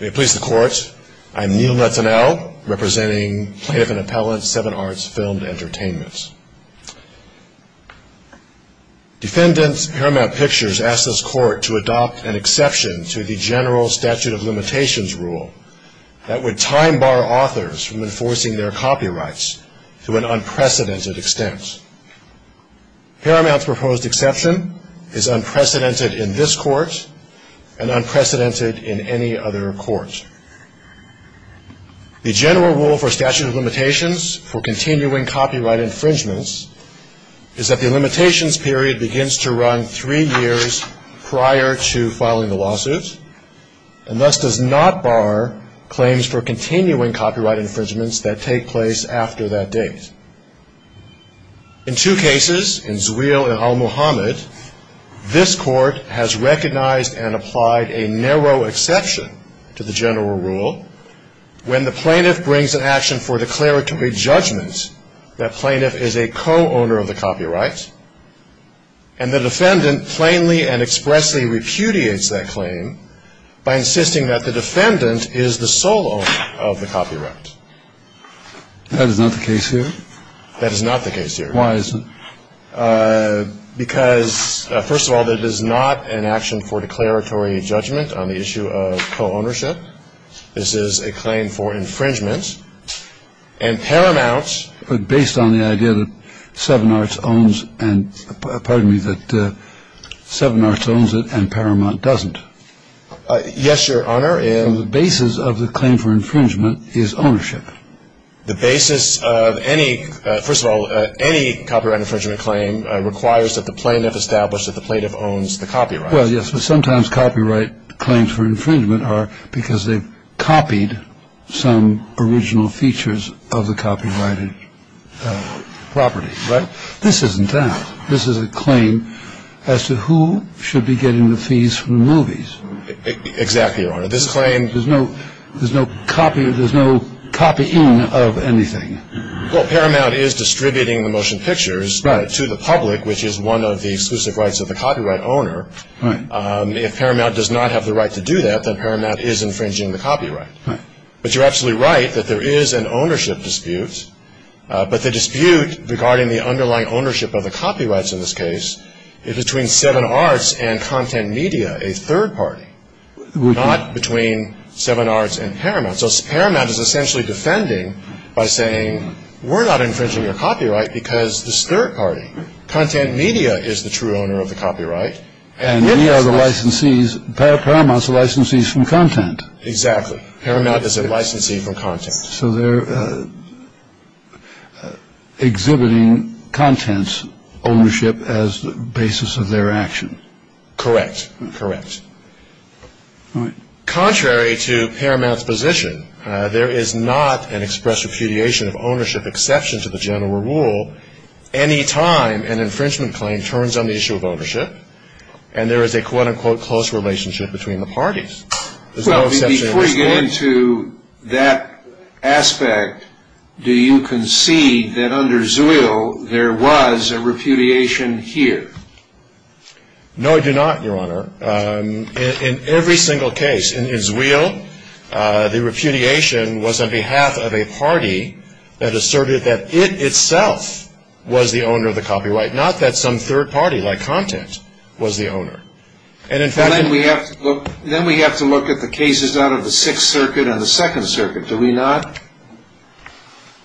May it please the Court, I am Neil Netanel, representing Plaintiff and Appellant Seven Arts Filmed Entertainments. Defendant Haramount Pictures asked this Court to adopt an exception to the General Statute of Limitations rule that would time-bar authors from enforcing their copyrights to an unprecedented extent. Haramount's proposed exception is unprecedented in this Court and unprecedented in any other Court. The General Rule for Statute of Limitations for continuing copyright infringements is that the limitations period begins to run three years prior to filing the lawsuit and thus does not bar claims for continuing copyright infringements that take place after that date. In two cases, in Zweil and al-Mohamed, this Court has recognized and applied a narrow exception to the General Rule when the plaintiff brings an action for declaratory judgment that plaintiff is a co-owner of the copyright and the defendant plainly and expressly repudiates that claim by insisting that the defendant is the sole owner of the copyright. That is not the case here? That is not the case here. Why is it? Because, first of all, that is not an action for declaratory judgment on the issue of co-ownership. This is a claim for infringement. And Paramount… But based on the idea that Seven Arts owns and, pardon me, that Seven Arts owns it and Paramount doesn't. Yes, Your Honor, and… The basis of the claim for infringement is ownership. The basis of any, first of all, any copyright infringement claim requires that the plaintiff establish that the plaintiff owns the copyright. Well, yes, but sometimes copyright claims for infringement are because they've copied some original features of the copyrighted property. Right? This isn't that. This is a claim as to who should be getting the fees from the movies. Exactly, Your Honor. This claim… There's no copying of anything. Well, Paramount is distributing the motion pictures to the public, which is one of the exclusive rights of the copyright owner. If Paramount does not have the right to do that, then Paramount is infringing the copyright. But you're absolutely right that there is an ownership dispute, but the dispute regarding the underlying ownership of the copyrights in this case is between Seven Arts and Content Media, a third party, not between Seven Arts and Paramount. So Paramount is essentially defending by saying, we're not infringing your copyright because this third party, Content Media, is the true owner of the copyright. And we are the licensees, Paramount's the licensees from Content. Exactly. Paramount is a licensee from Content. So they're exhibiting Content's ownership as the basis of their action. Correct. Correct. Contrary to Paramount's position, there is not an express repudiation of ownership exception to the general rule any time an infringement claim turns on the issue of ownership, and there is a quote-unquote close relationship between the parties. There's no exception in this court. Before you get into that aspect, do you concede that under Zewail there was a repudiation here? No, I do not, Your Honor. In every single case in Zewail, the repudiation was on behalf of a party that asserted that it itself was the owner of the copyright, not that some third party like Content was the owner. Then we have to look at the cases out of the Sixth Circuit and the Second Circuit, do we not?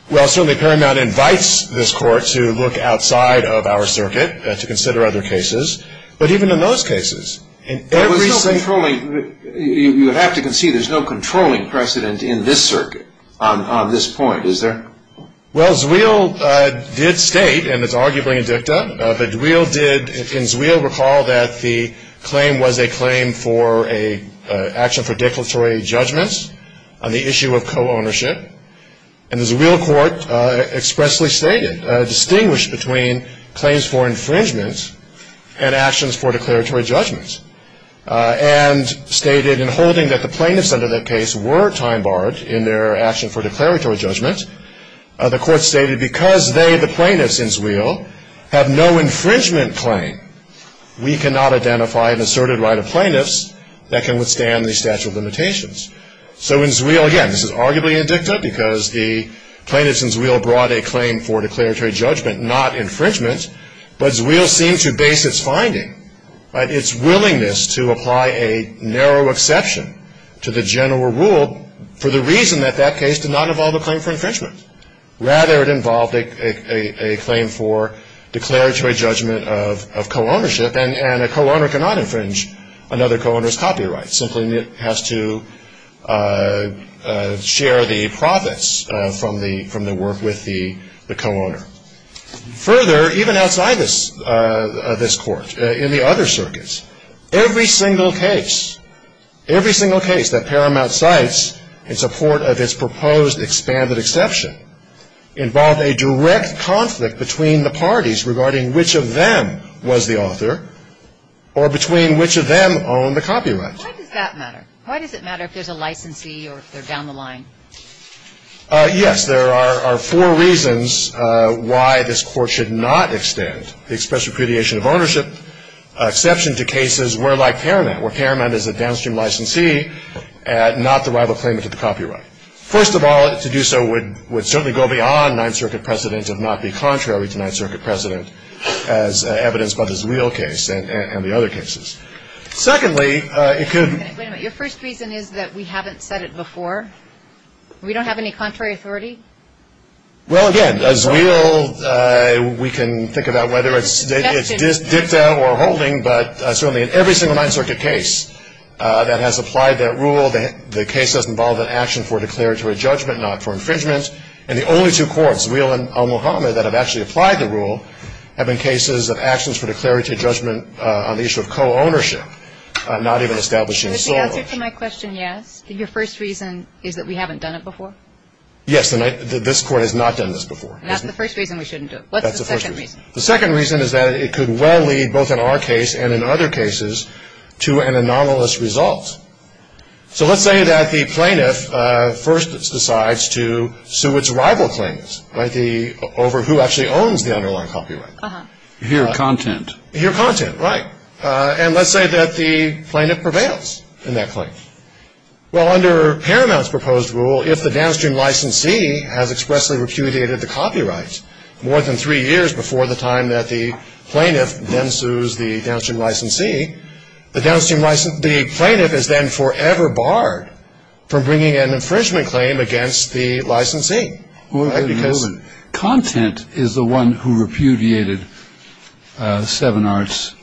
Well, certainly Paramount invites this court to look outside of our circuit to consider other cases. But even in those cases, in every single case. You have to concede there's no controlling precedent in this circuit on this point, is there? Well, Zewail did state, and it's arguably in dicta, but Zewail did in Zewail recall that the claim was a claim for an action for declaratory judgment on the issue of co-ownership, and the Zewail court expressly stated, distinguished between claims for infringement and actions for declaratory judgment, and stated in holding that the plaintiffs under that case were time-barred in their action for declaratory judgment, the court stated because they, the plaintiffs in Zewail, have no infringement claim, we cannot identify an asserted right of plaintiffs that can withstand the statute of limitations. So in Zewail, again, this is arguably in dicta because the plaintiffs in Zewail brought a claim for declaratory judgment, not infringement, but Zewail seemed to base its finding, its willingness to apply a narrow exception to the general rule for the reason that that case did not involve a claim for infringement. Rather, it involved a claim for declaratory judgment of co-ownership, and a co-owner cannot infringe another co-owner's copyright, simply it has to share the profits from the work with the co-owner. Further, even outside this court, in the other circuits, every single case, every single case that Paramount cites in support of its proposed expanded exception involved a direct conflict between the parties regarding which of them was the author, or between which of them owned the copyright. Why does that matter? Why does it matter if there's a licensee or if they're down the line? Yes, there are four reasons why this court should not extend the express repudiation of ownership exception to cases where like Paramount, where Paramount is a downstream licensee and not the rival claimant of the copyright. First of all, to do so would certainly go beyond Ninth Circuit precedent and not be contrary to Ninth Circuit precedent as evidenced by the Zewail case and the other cases. Secondly, it could. Wait a minute, your first reason is that we haven't said it before? We don't have any contrary authority? Well, again, Zewail, we can think about whether it's dicta or holding, but certainly in every single Ninth Circuit case that has applied that rule, the case has involved an action for declaratory judgment, not for infringement. And the only two courts, Zewail and Omohama, that have actually applied the rule, have been cases of actions for declaratory judgment on the issue of co-ownership, not even establishing sole ownership. Is the answer to my question yes, that your first reason is that we haven't done it before? Yes, this court has not done this before. That's the first reason we shouldn't do it. What's the second reason? The second reason is that it could well lead, both in our case and in other cases, to an anomalous result. So let's say that the plaintiff first decides to sue its rival plaintiffs over who actually owns the underlying copyright. Your content. Your content, right. And let's say that the plaintiff prevails in that claim. Well, under Paramount's proposed rule, if the downstream licensee has expressly repudiated the copyright more than three years before the time that the plaintiff then sues the downstream licensee, the plaintiff is then forever barred from bringing an infringement claim against the licensee. Content is the one who repudiated Seven Arts'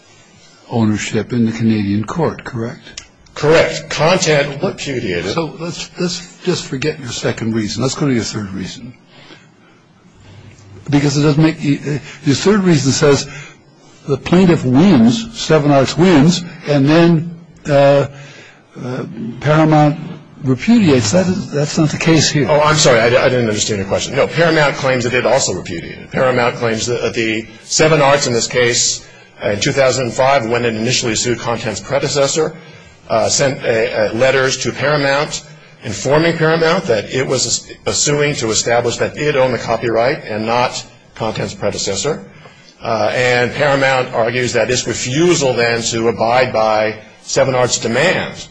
ownership in the Canadian court, correct? Correct. Content repudiated. So let's just forget your second reason. Let's go to your third reason. Because it doesn't make you. Your third reason says the plaintiff wins. Seven Arts wins. And then Paramount repudiates. That's not the case here. Oh, I'm sorry. I didn't understand your question. No, Paramount claims that it also repudiated. Paramount claims that the Seven Arts, in this case, in 2005, when it initially sued Content's predecessor, sent letters to Paramount informing Paramount that it was suing to establish that it owned the copyright and not Content's predecessor. And Paramount argues that this refusal then to abide by Seven Arts' demand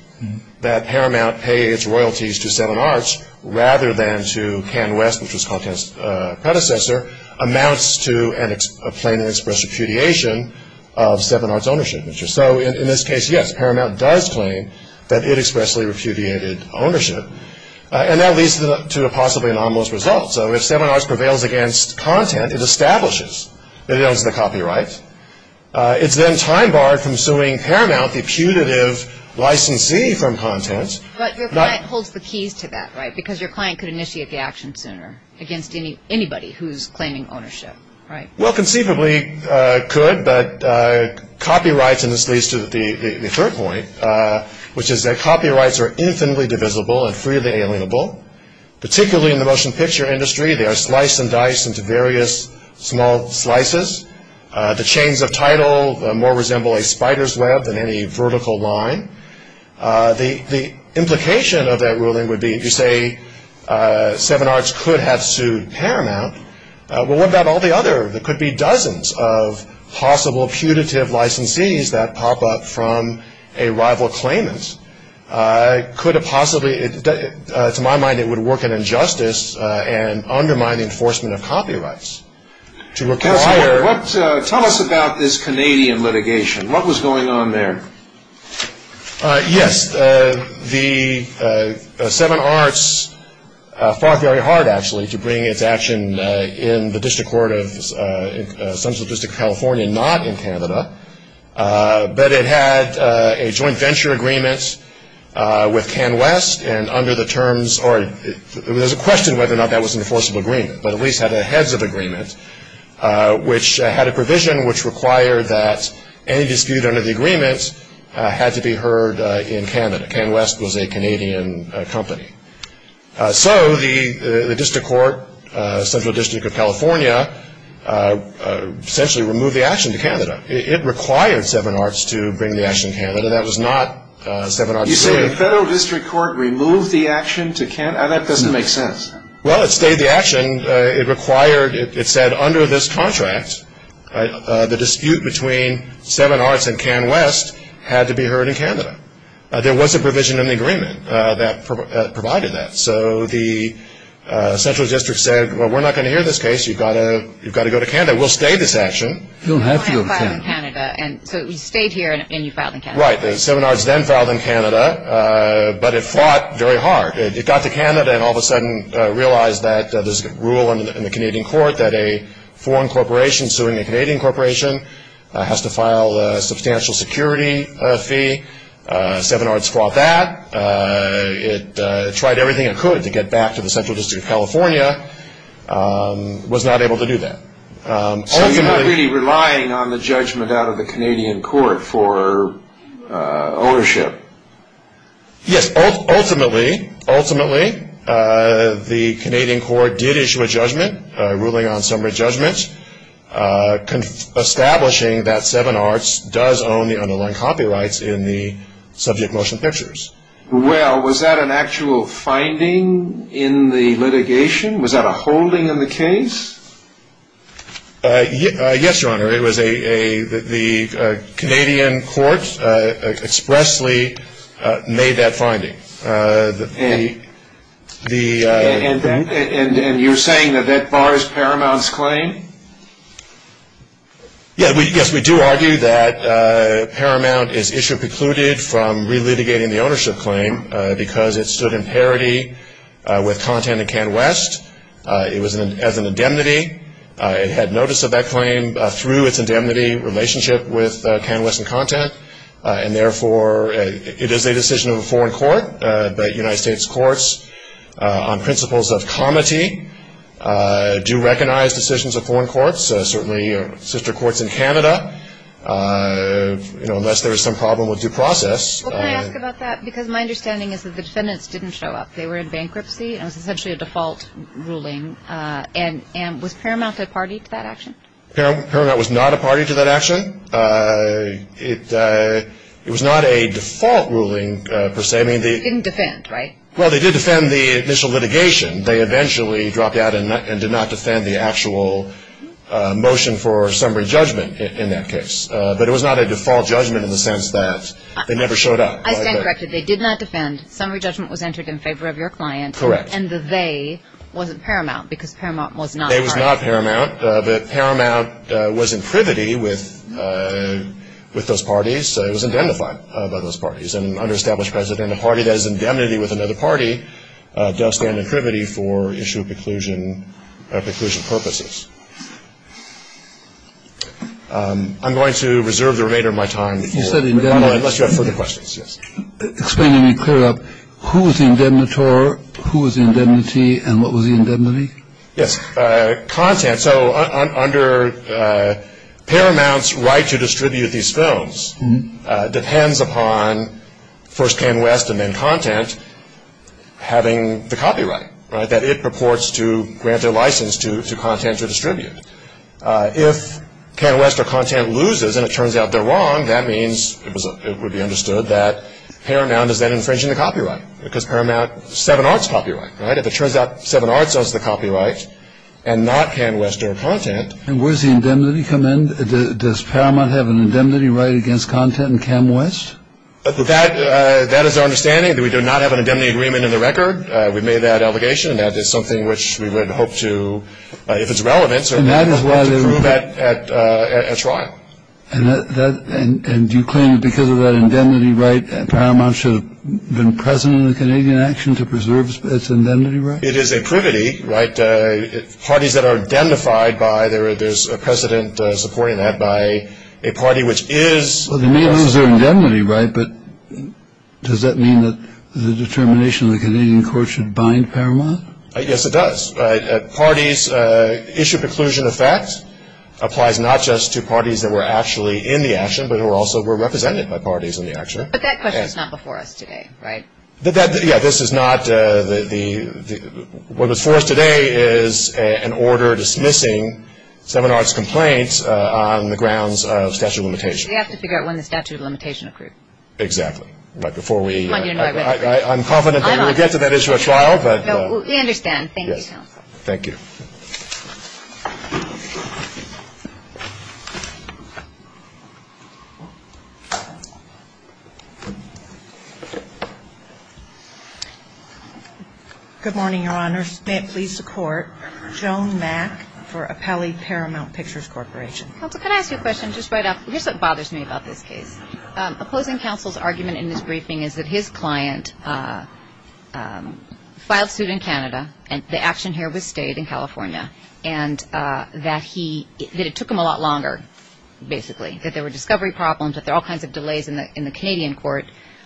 that Paramount pay its royalties to Seven Arts rather than to Ken West, which was Content's predecessor, amounts to a plain and express repudiation of Seven Arts' ownership. So in this case, yes, Paramount does claim that it expressly repudiated ownership. And that leads to a possibly anomalous result. So if Seven Arts prevails against Content, it establishes that it owns the copyright. It's then time-barred from suing Paramount, the putative licensee from Content. But your client holds the keys to that, right? Because your client could initiate the action sooner against anybody who's claiming ownership, right? Well, conceivably could, but copyrights, and this leads to the third point, which is that copyrights are infinitely divisible and freely alienable. Particularly in the motion picture industry, they are sliced and diced into various small slices. The chains of title more resemble a spider's web than any vertical line. The implication of that ruling would be, if you say Seven Arts could have sued Paramount, well, what about all the other, there could be dozens of possible putative licensees that pop up from a rival claimant. Could it possibly, to my mind, it would work an injustice and undermine the enforcement of copyrights. Tell us about this Canadian litigation. What was going on there? Yes, Seven Arts fought very hard, actually, to bring its action in the District Court of Central District of California, not in Canada, but it had a joint venture agreement with Canwest, and under the terms, or there's a question whether or not that was an enforceable agreement, but at least had a heads of agreement, which had a provision which required that any dispute under the agreement had to be heard in Canada. Canwest was a Canadian company. So the District Court, Central District of California, essentially removed the action to Canada. It required Seven Arts to bring the action to Canada. That was not Seven Arts' doing. You say the Federal District Court removed the action to Canada? That doesn't make sense. Well, it stayed the action. It required, it said under this contract, the dispute between Seven Arts and Canwest had to be heard in Canada. There was a provision in the agreement that provided that. So the Central District said, well, we're not going to hear this case. You've got to go to Canada. We'll stay this action. You don't have to go to Canada. You filed in Canada, so you stayed here and you filed in Canada. Right. Seven Arts then filed in Canada, but it fought very hard. It got to Canada and all of a sudden realized that there's a rule in the Canadian court that a foreign corporation suing a Canadian corporation has to file a substantial security fee. Seven Arts fought that. It tried everything it could to get back to the Central District of California. It was not able to do that. So you're not really relying on the judgment out of the Canadian court for ownership? Yes. Ultimately, ultimately, the Canadian court did issue a judgment, a ruling on summary judgment, establishing that Seven Arts does own the underlying copyrights in the subject motion pictures. Well, was that an actual finding in the litigation? Was that a holding in the case? Yes, Your Honor. The Canadian court expressly made that finding. And you're saying that that bars Paramount's claim? Yes, we do argue that Paramount is issue precluded from re-litigating the ownership claim because it stood in parity with content in CanWest. It was as an indemnity. It had notice of that claim through its indemnity relationship with CanWest and content. And, therefore, it is a decision of a foreign court, but United States courts on principles of comity do recognize decisions of foreign courts, certainly sister courts in Canada, unless there is some problem with due process. Well, can I ask about that? Because my understanding is that the defendants didn't show up. They were in bankruptcy. It was essentially a default ruling. And was Paramount a party to that action? Paramount was not a party to that action. It was not a default ruling, per se. They didn't defend, right? Well, they did defend the initial litigation. They eventually dropped out and did not defend the actual motion for summary judgment in that case. But it was not a default judgment in the sense that they never showed up. I stand corrected. They did not defend. Summary judgment was entered in favor of your client. Correct. And the they wasn't Paramount because Paramount was not a party. They was not Paramount. But Paramount was in privity with those parties. It was indemnified by those parties. And an under-established president, a party that is indemnity with another party, does stand in privity for issue preclusion purposes. I'm going to reserve the remainder of my time. You said indemnity. Unless you have further questions. Explain to me, clear up, who was the indemnitor, who was the indemnity, and what was the indemnity? Yes. Content. So under Paramount's right to distribute these films depends upon first Pan West and then Content having the copyright, right? That it purports to grant their license to Content to distribute. If Pan West or Content loses and it turns out they're wrong, that means it would be understood that Paramount is then infringing the copyright. Because Paramount, Seven Arts copyright, right? If it turns out Seven Arts owns the copyright and not Pan West or Content. And where does the indemnity come in? Does Paramount have an indemnity right against Content and Pan West? That is our understanding. We do not have an indemnity agreement in the record. We made that allegation, and that is something which we would hope to, if it's relevant, to prove at trial. And do you claim that because of that indemnity right, Paramount should have been present in the Canadian action to preserve its indemnity right? It is a privity, right? Parties that are identified by there's a precedent supporting that by a party which is. So they may lose their indemnity, right, but does that mean that the determination of the Canadian court should bind Paramount? Yes, it does. Parties issue preclusion of facts applies not just to parties that were actually in the action, but who also were represented by parties in the action. But that question is not before us today, right? Yeah, this is not the. What was forced today is an order dismissing Seven Arts complaints on the grounds of statute of limitation. We have to figure out when the statute of limitation accrued. Exactly. But before we... I'm confident that we'll get to that issue at trial, but... We understand. Thank you, counsel. Thank you. Good morning, Your Honor. May it please the Court. Joan Mack for Appelli Paramount Pictures Corporation. Counsel, can I ask you a question? Just right off... Here's what bothers me about this case. Opposing counsel's argument in this briefing is that his client filed suit in Canada, and the action here was stayed in California, and that he... that it took him a lot longer, basically, that there were discovery problems, that there are all kinds of delays in the Canadian court,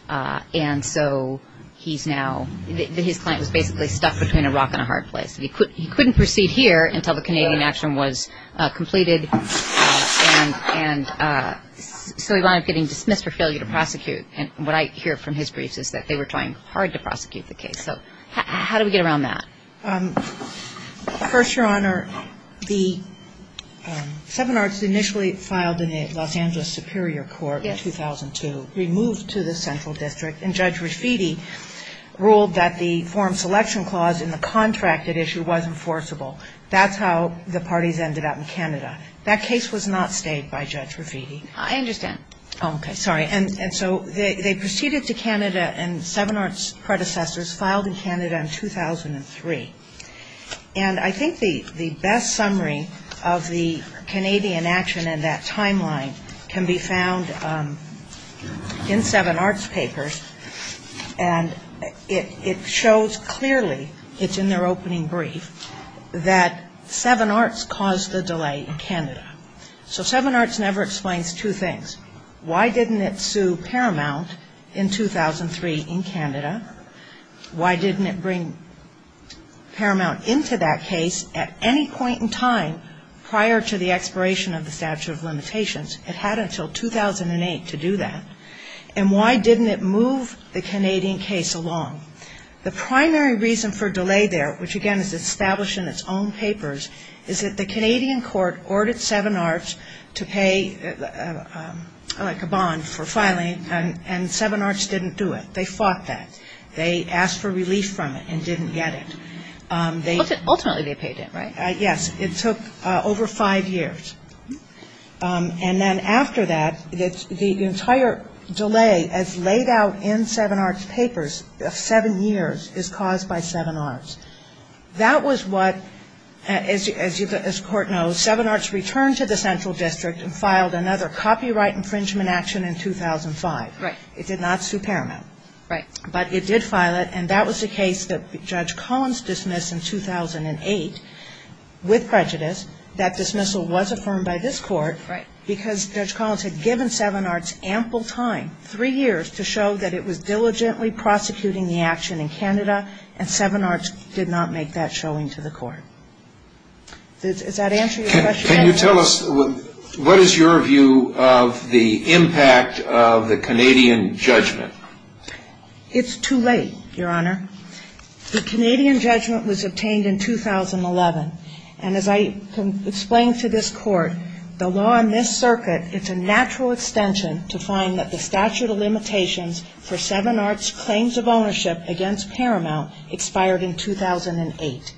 and so he's now... that his client was basically stuck between a rock and a hard place. He couldn't proceed here until the Canadian action was completed, and so he wound up getting dismissed for failure to prosecute. And what I hear from his briefs is that they were trying hard to prosecute the case. So how do we get around that? First, Your Honor, the seven arts initially filed in the Los Angeles Superior Court. Yes. In 2002, removed to the central district, and Judge Rafiti ruled that the forum selection clause in the contracted issue wasn't forcible. That's how the parties ended up in Canada. That case was not stayed by Judge Rafiti. I understand. Oh, okay. Sorry. And so they proceeded to Canada, and seven arts predecessors filed in Canada in 2003. And I think the best summary of the Canadian action in that timeline can be found in seven arts papers, and it shows clearly, it's in their opening brief, that seven arts caused the delay in Canada. So seven arts never explains two things. Why didn't it sue Paramount in 2003 in Canada? Why didn't it bring Paramount into that case at any point in time prior to the expiration of the statute of limitations? It had until 2008 to do that. And why didn't it move the Canadian case along? The primary reason for delay there, which, again, is established in its own papers, is that the Canadian court ordered seven arts to pay like a bond for filing, and seven arts didn't do it. They fought that. They asked for relief from it and didn't get it. Ultimately they paid it, right? Yes. It took over five years. And then after that, the entire delay as laid out in seven arts papers, seven years, is caused by seven arts. That was what, as the court knows, seven arts returned to the central district and filed another copyright infringement action in 2005. Right. It did not sue Paramount. Right. But it did file it, and that was the case that Judge Collins dismissed in 2008 with prejudice. That dismissal was affirmed by this court because Judge Collins had given seven arts ample time, three years, to show that it was diligently prosecuting the action in Canada, and seven arts did not make that showing to the court. Does that answer your question? Can you tell us what is your view of the impact of the Canadian judgment? It's too late, Your Honor. The Canadian judgment was obtained in 2011. And as I explained to this court, the law in this circuit, it's a natural extension to find that the statute of limitations for seven arts claims of ownership against Paramount expired in 2008.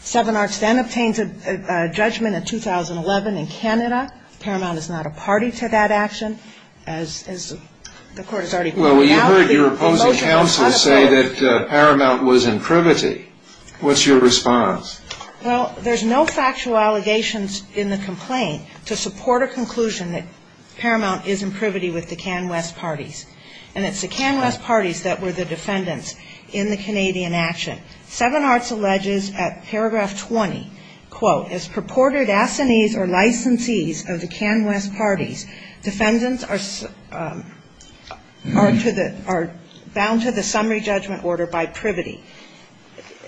Seven arts then obtained a judgment in 2011 in Canada. Paramount is not a party to that action, as the court has already pointed out. Well, you heard your opposing counsel say that Paramount was in privity. What's your response? Well, there's no factual allegations in the complaint to support a conclusion that Paramount is in privity with the Canwest parties. And it's the Canwest parties that were the defendants in the Canadian action. Seven arts alleges at paragraph 20, quote, as purported assinees or licensees of the Canwest parties, defendants are bound to the summary judgment order by privity.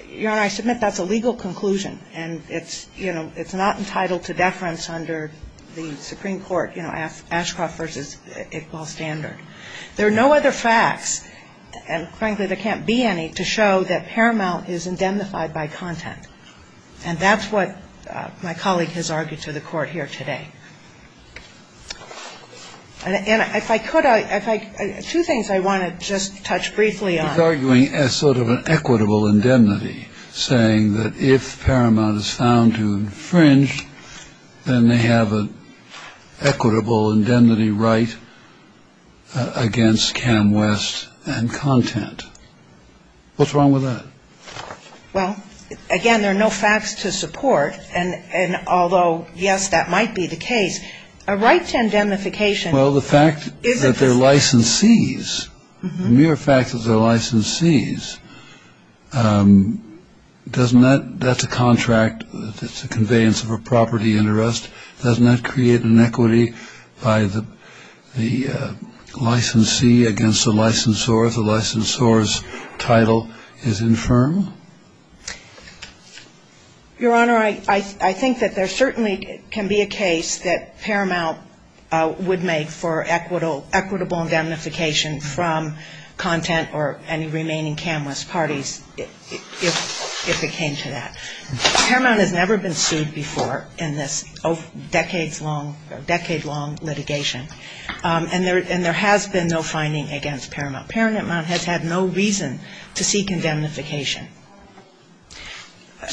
Your Honor, I submit that's a legal conclusion. And it's, you know, it's not entitled to deference under the Supreme Court, you know, Ashcroft v. Iqbal standard. There are no other facts, and frankly, there can't be any to show that Paramount is indemnified by content. And that's what my colleague has argued to the court here today. And if I could, two things I want to just touch briefly on. He's arguing as sort of an equitable indemnity, saying that if Paramount is found to have infringed, then they have an equitable indemnity right against Canwest and content. What's wrong with that? Well, again, there are no facts to support. And although, yes, that might be the case, a right to indemnification isn't. Well, the fact that they're licensees, the mere fact that they're licensees, doesn't that, that's a contract, it's a conveyance of a property interest, doesn't that create an equity by the licensee against the licensor if the licensor's title is infirm? Your Honor, I think that there certainly can be a case that Paramount would make for equitable indemnification from content or any remaining Canwest parties if it came to that. Paramount has never been sued before in this decades-long litigation. And there has been no finding against Paramount. Paramount has had no reason to seek indemnification.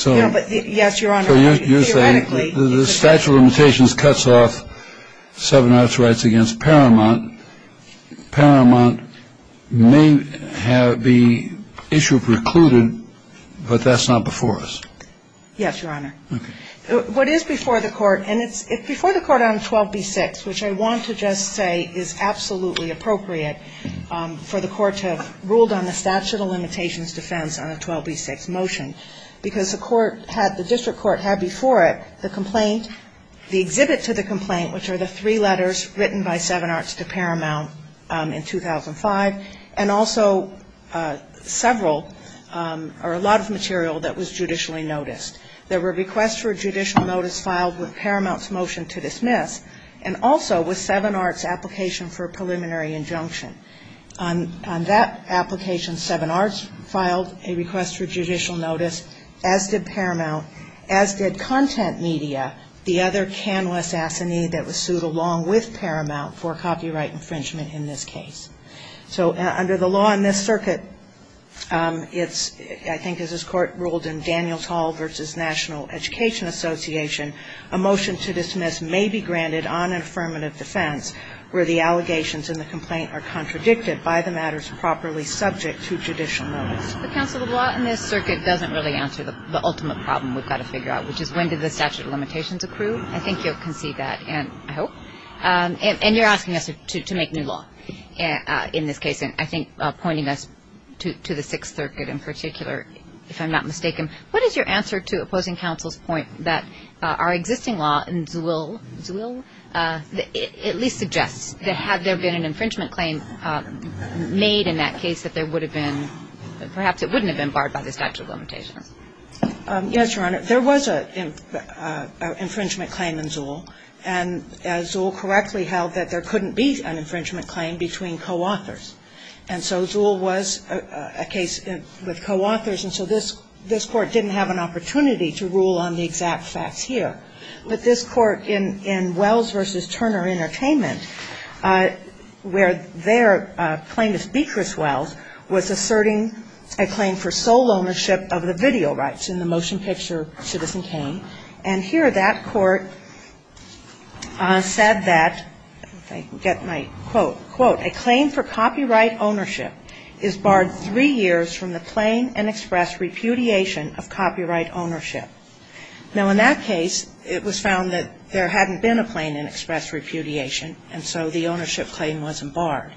Yes, Your Honor. So you're saying the statute of limitations cuts off 7-R's rights against Paramount. Paramount may have the issue precluded, but that's not before us. Yes, Your Honor. Okay. What is before the Court, and it's before the Court on 12b-6, which I want to just say is absolutely appropriate for the Court to have ruled on the statute of limitations defense on a 12b-6 motion. Because the District Court had before it the complaint, the exhibit to the complaint, which are the three letters written by 7-R to Paramount in 2005, and also a lot of material that was judicially noticed. There were requests for a judicial notice filed with Paramount's motion to dismiss, and also with 7-R's application for a preliminary injunction. On that application, 7-R filed a request for judicial notice, as did Paramount, as did Content Media, the other canless assignee that was sued along with Paramount for copyright infringement in this case. So under the law in this circuit, it's, I think as this Court ruled in Daniels Hall versus National Education Association, a motion to dismiss may be granted on where the allegations in the complaint are contradicted by the matters properly subject to judicial notice. But counsel, the law in this circuit doesn't really answer the ultimate problem we've got to figure out, which is when did the statute of limitations accrue? I think you'll concede that, and I hope. And you're asking us to make new law in this case, and I think pointing us to the Sixth Circuit in particular, if I'm not mistaken, what is your answer to opposing counsel's point that our existing law in Zuhl at least suggests that had there been an infringement claim made in that case that there would have been, perhaps it wouldn't have been barred by the statute of limitations? Yes, Your Honor. There was an infringement claim in Zuhl, and as Zuhl correctly held, that there couldn't be an infringement claim between co-authors. And so Zuhl was a case with co-authors, and so this Court didn't have an opportunity to rule on the exact facts here. But this Court in Wells v. Turner Entertainment, where their claim is Beecher's Wells, was asserting a claim for sole ownership of the video rights in the motion picture Citizen Kane. And here that Court said that, if I can get my quote, quote, a claim for copyright ownership is barred three years from the plain and express repudiation of copyright ownership. Now, in that case, it was found that there hadn't been a plain and express repudiation, and so the ownership claim wasn't barred.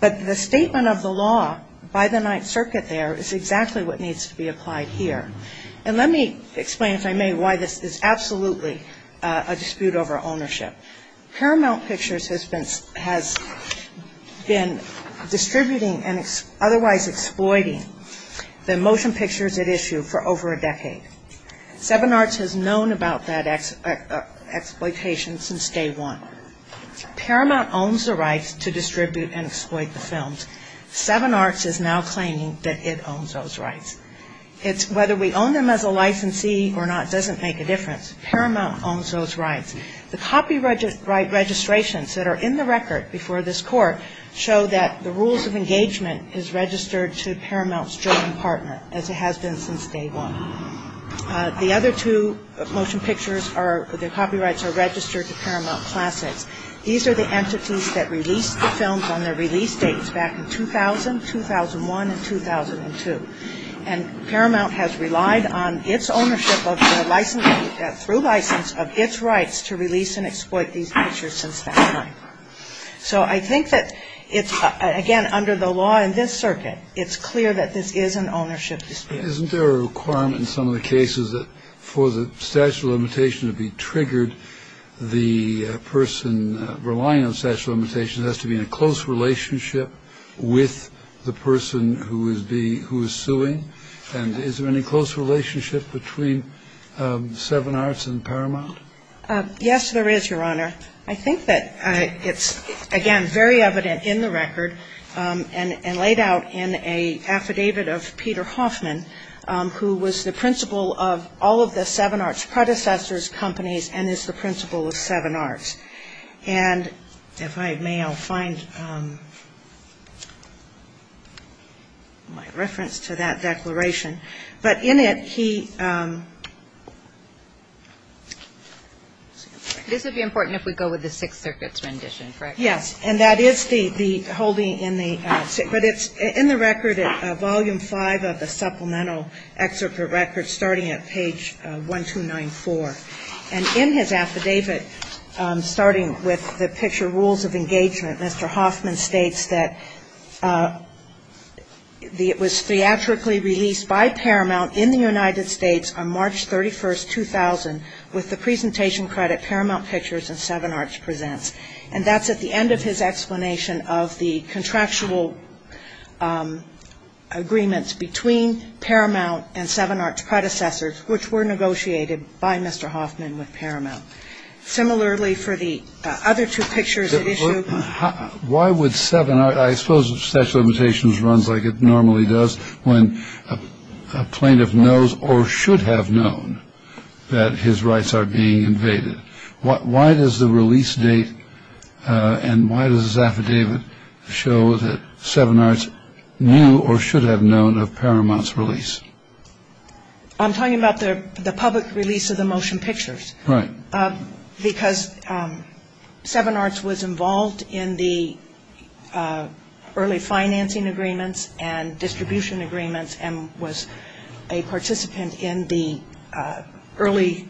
But the statement of the law by the Ninth Circuit there is exactly what needs to be applied here. And let me explain, if I may, why this is absolutely a dispute over ownership. Paramount Pictures has been distributing and otherwise exploiting the motion pictures at issue for over a decade. Seven Arts has known about that exploitation since day one. Paramount owns the rights to distribute and exploit the films. Seven Arts is now claiming that it owns those rights. Whether we own them as a licensee or not doesn't make a difference. Paramount owns those rights. The copyright registrations that are in the record before this Court show that the rules have been in place since day one. The other two motion pictures, the copyrights are registered to Paramount Classics. These are the entities that released the films on their release dates back in 2000, 2001, and 2002. And Paramount has relied on its ownership of the licensee, through license, of its rights to release and exploit these pictures since that time. So I think that it's, again, under the law in this circuit, it's clear that this is an ownership dispute. Isn't there a requirement in some of the cases that for the statute of limitations to be triggered, the person relying on the statute of limitations has to be in a close relationship with the person who is being, who is suing? And is there any close relationship between Seven Arts and Paramount? Yes, there is, Your Honor. I think that it's, again, very evident in the record and laid out in an affidavit of Peter Hoffman, who was the principal of all of the Seven Arts predecessors' companies and is the principal of Seven Arts. And if I may, I'll find my reference to that declaration. But in it, he ‑‑ This would be important if we go with the Sixth Circuit's rendition, correct? Yes. And that is the holding in the ‑‑ but it's in the record, Volume 5 of the supplemental excerpt of the record, starting at page 1294. And in his affidavit, starting with the picture Rules of Engagement, Mr. Hoffman states that it was theatrically released by Paramount in the United States on March 31, 2000, with the presentation credit Paramount Pictures and Seven Arts Presents. And that's at the end of his explanation of the contractual agreements between Paramount and Seven Arts predecessors, which were negotiated by Mr. Hoffman with Paramount. Similarly, for the other two pictures at issue ‑‑ I suppose the Statute of Limitations runs like it normally does when a plaintiff knows or should have known that his rights are being invaded. Why does the release date and why does his affidavit show that Seven Arts knew or should have known of Paramount's release? I'm talking about the public release of the Motion Pictures. Right. Because Seven Arts was involved in the early financing agreements and distribution agreements and was a participant in the early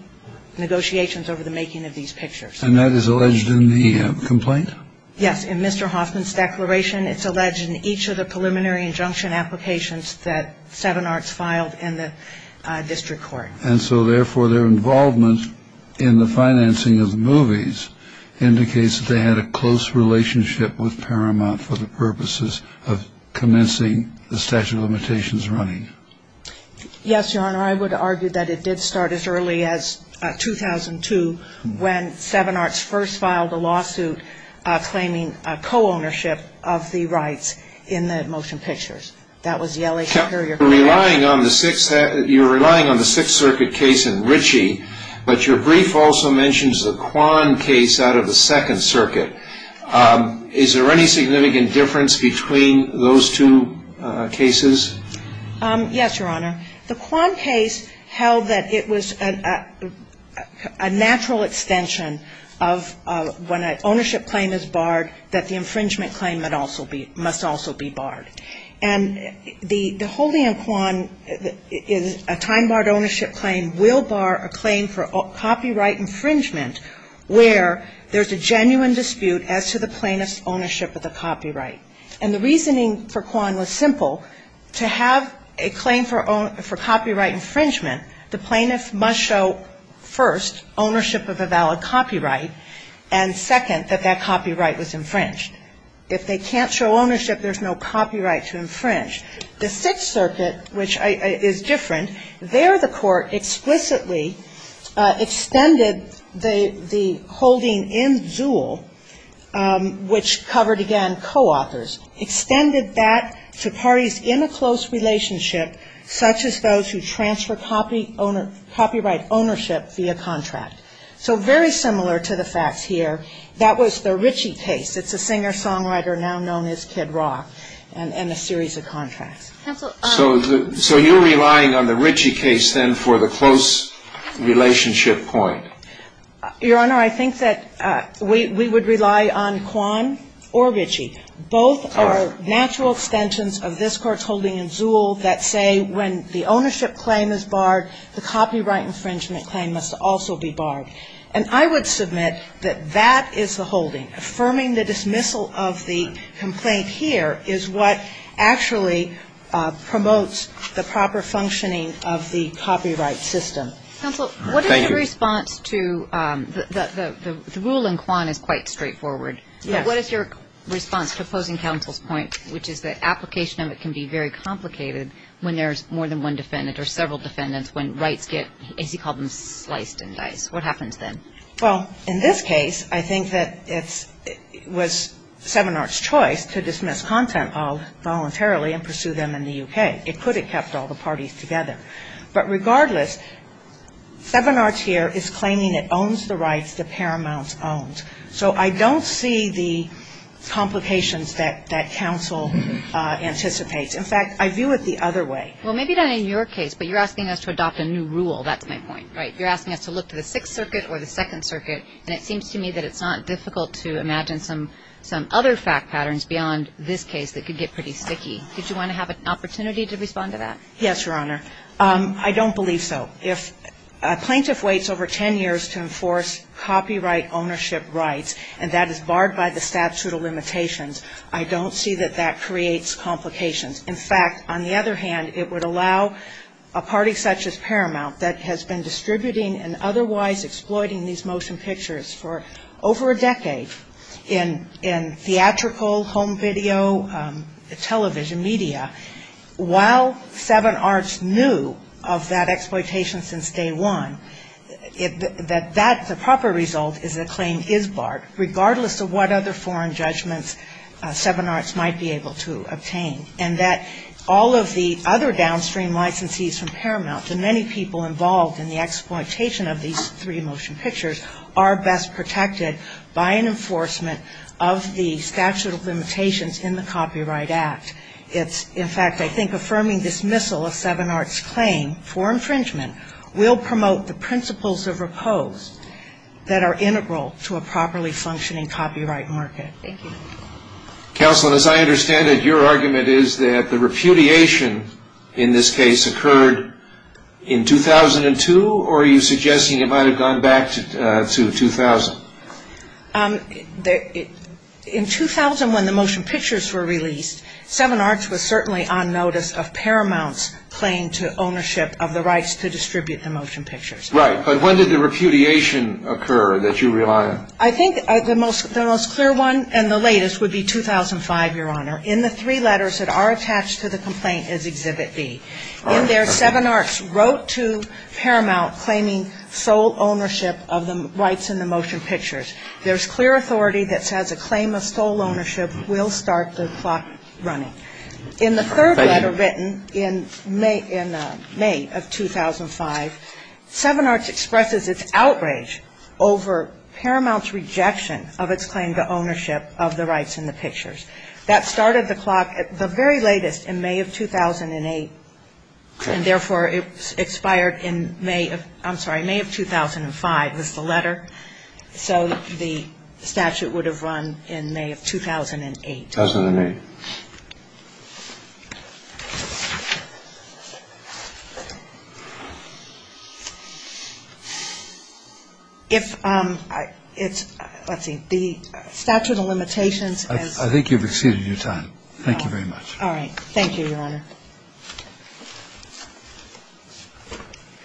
negotiations over the making of these pictures. And that is alleged in the complaint? Yes. In Mr. Hoffman's declaration, it's alleged in each of the preliminary injunction applications that Seven Arts filed in the district court. And so, therefore, their involvement in the financing of the movies indicates that they had a close relationship with Paramount for the purposes of commencing the Statute of Limitations running. Yes, Your Honor. I would argue that it did start as early as 2002 when Seven Arts first filed a lawsuit claiming co‑ownership of the rights in the Motion Pictures. That was the L.A. Superior Court. You're relying on the Sixth Circuit case in Ritchie, but your brief also mentions the Kwan case out of the Second Circuit. Is there any significant difference between those two cases? Yes, Your Honor. The Kwan case held that it was a natural extension of when an ownership claim is barred that the infringement claim must also be barred. And the holding of Kwan is a time‑barred ownership claim will bar a claim for copyright infringement where there's a genuine dispute as to the plaintiff's ownership of the copyright. And the reasoning for Kwan was simple. To have a claim for copyright infringement, the plaintiff must show first ownership of a valid copyright and, second, that that copyright was infringed. If they can't show ownership, there's no copyright to infringe. The Sixth Circuit, which is different, there the court explicitly extended the holding in Zuhl, which covered, again, co‑authors, extended that to parties in a close relationship such as those who transfer copyright ownership via contract. So very similar to the facts here. That was the Ritchie case. It's a singer‑songwriter now known as Kid Rock and a series of contracts. So you're relying on the Ritchie case then for the close relationship point? Your Honor, I think that we would rely on Kwan or Ritchie. Both are natural extensions of this Court's holding in Zuhl that say when the ownership claim is barred, the copyright infringement claim must also be barred. And I would submit that that is the holding, affirming the dismissal of the complaint here is what actually promotes the proper functioning of the copyright system. Counsel, what is your response to the rule in Kwan is quite straightforward. What is your response to opposing counsel's point, which is the application of it can be very complicated when there's more than one defendant or several defendants when rights get, as you call them, sliced and diced. What happens then? Well, in this case, I think that it was Seven Arts' choice to dismiss content voluntarily and pursue them in the U.K. It could have kept all the parties together. But regardless, Seven Arts here is claiming it owns the rights that Paramount owns. So I don't see the complications that counsel anticipates. In fact, I view it the other way. Well, maybe not in your case, but you're asking us to adopt a new rule. That's my point, right? You're asking us to look to the Sixth Circuit or the Second Circuit. And it seems to me that it's not difficult to imagine some other fact patterns beyond this case that could get pretty sticky. Did you want to have an opportunity to respond to that? Yes, Your Honor. I don't believe so. If a plaintiff waits over ten years to enforce copyright ownership rights, and that is barred by the statute of limitations, I don't see that that creates complications. In fact, on the other hand, it would allow a party such as Paramount that has been distributing and otherwise exploiting these motion pictures for over a decade in theatrical home video television media. While Seven Arts knew of that exploitation since day one, the proper result is a claim is barred, regardless of what other foreign judgments Seven Arts might be able to obtain. And that all of the other downstream licensees from Paramount and many people involved in the exploitation of these three motion pictures are best protected by an enforcement of the statute of limitations in the Copyright Act. In fact, I think affirming dismissal of Seven Arts' claim for infringement will promote the principles of repose that are integral to a properly functioning copyright market. Thank you. Counsel, as I understand it, your argument is that the repudiation in this case occurred in 2002, or are you suggesting it might have gone back to 2000? In 2000, when the motion pictures were released, Seven Arts was certainly on notice of Paramount's claim to ownership of the rights to distribute the motion pictures. Right, but when did the repudiation occur that you rely on? I think the most clear one and the latest would be 2005, Your Honor. In the three letters that are attached to the complaint is Exhibit B. In there, Seven Arts wrote to Paramount claiming sole ownership of the rights in the motion pictures. There's clear authority that says a claim of sole ownership will start the clock running. In the third letter written in May of 2005, Seven Arts expresses its outrage over Paramount's rejection of its claim to ownership of the rights in the pictures. That started the clock at the very latest in May of 2008, and therefore it expired in May of 2005 was the letter. So the statute would have run in May of 2008. 2008. If it's, let's see, the statute of limitations. I think you've exceeded your time. Thank you very much. All right. Thank you, Your Honor.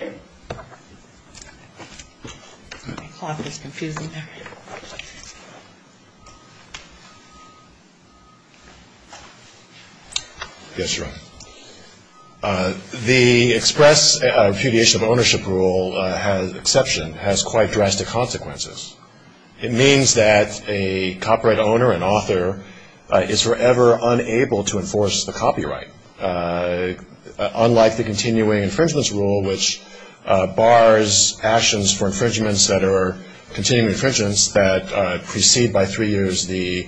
All right. The clock is confusing there. Yes, Your Honor. The express repudiation of ownership rule exception has quite drastic consequences. It means that a copyright owner, an author, is forever unable to enforce the copyright. Unlike the continuing infringements rule, which bars actions for infringements that are continuing infringements that precede by three years the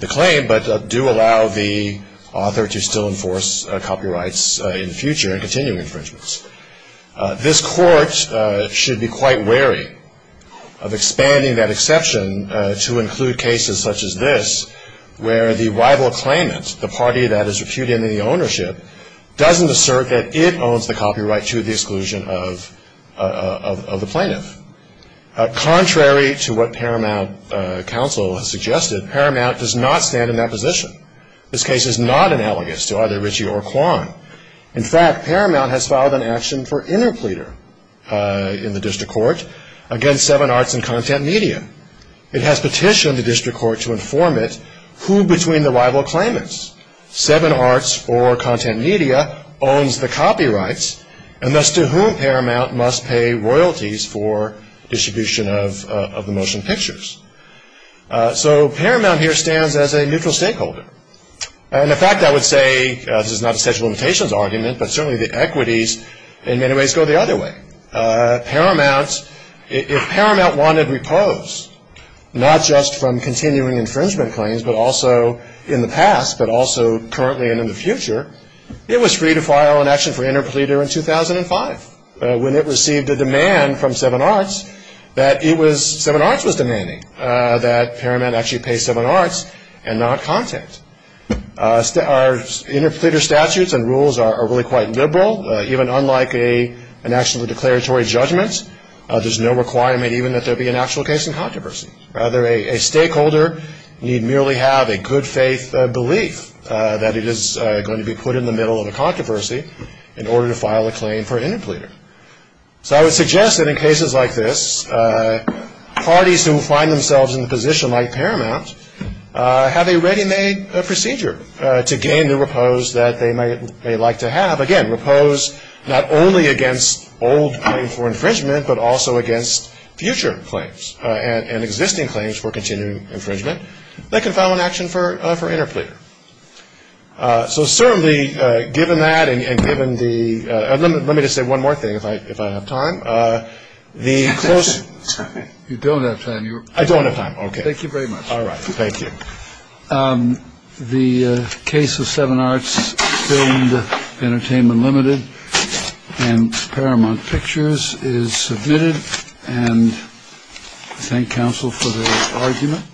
claim, but do allow the author to still enforce copyrights in the future in continuing infringements. This court should be quite wary of expanding that exception to include cases such as this, where the rival claimant, the party that is reputed in the ownership, doesn't assert that it owns the copyright to the exclusion of the plaintiff. Contrary to what Paramount counsel has suggested, Paramount does not stand in that position. This case is not analogous to either Ritchie or Kwan. In fact, Paramount has filed an action for interpleader in the district court against Seven Arts and Content Media. It has petitioned the district court to inform it who between the rival claimants, Seven Arts or Content Media, owns the copyrights, and thus to whom Paramount must pay royalties for distribution of the motion pictures. So Paramount here stands as a neutral stakeholder. And in fact, I would say, this is not a statute of limitations argument, but certainly the equities in many ways go the other way. Paramount, if Paramount wanted repose, not just from continuing infringement claims, but also in the past, but also currently and in the future, it was free to file an action for interpleader in 2005, when it received a demand from Seven Arts that it was, Seven Arts was demanding, that Paramount actually pay Seven Arts and not Content. Our interpleader statutes and rules are really quite liberal, even unlike an actual declaratory judgment. There's no requirement even that there be an actual case in controversy. Rather, a stakeholder need merely have a good faith belief that it is going to be put in the middle of a controversy, in order to file a claim for interpleader. So I would suggest that in cases like this, parties who find themselves in a position like Paramount have a ready-made procedure to gain the repose that they may like to have. Again, repose not only against old claim for infringement, but also against future claims and existing claims for continuing infringement. They can file an action for interpleader. So certainly, given that and given the... Let me just say one more thing, if I have time. You don't have time. I don't have time. Okay. Thank you very much. All right. Thank you. The case of Seven Arts filmed Entertainment Limited and Paramount Pictures is submitted. And I thank counsel for the argument.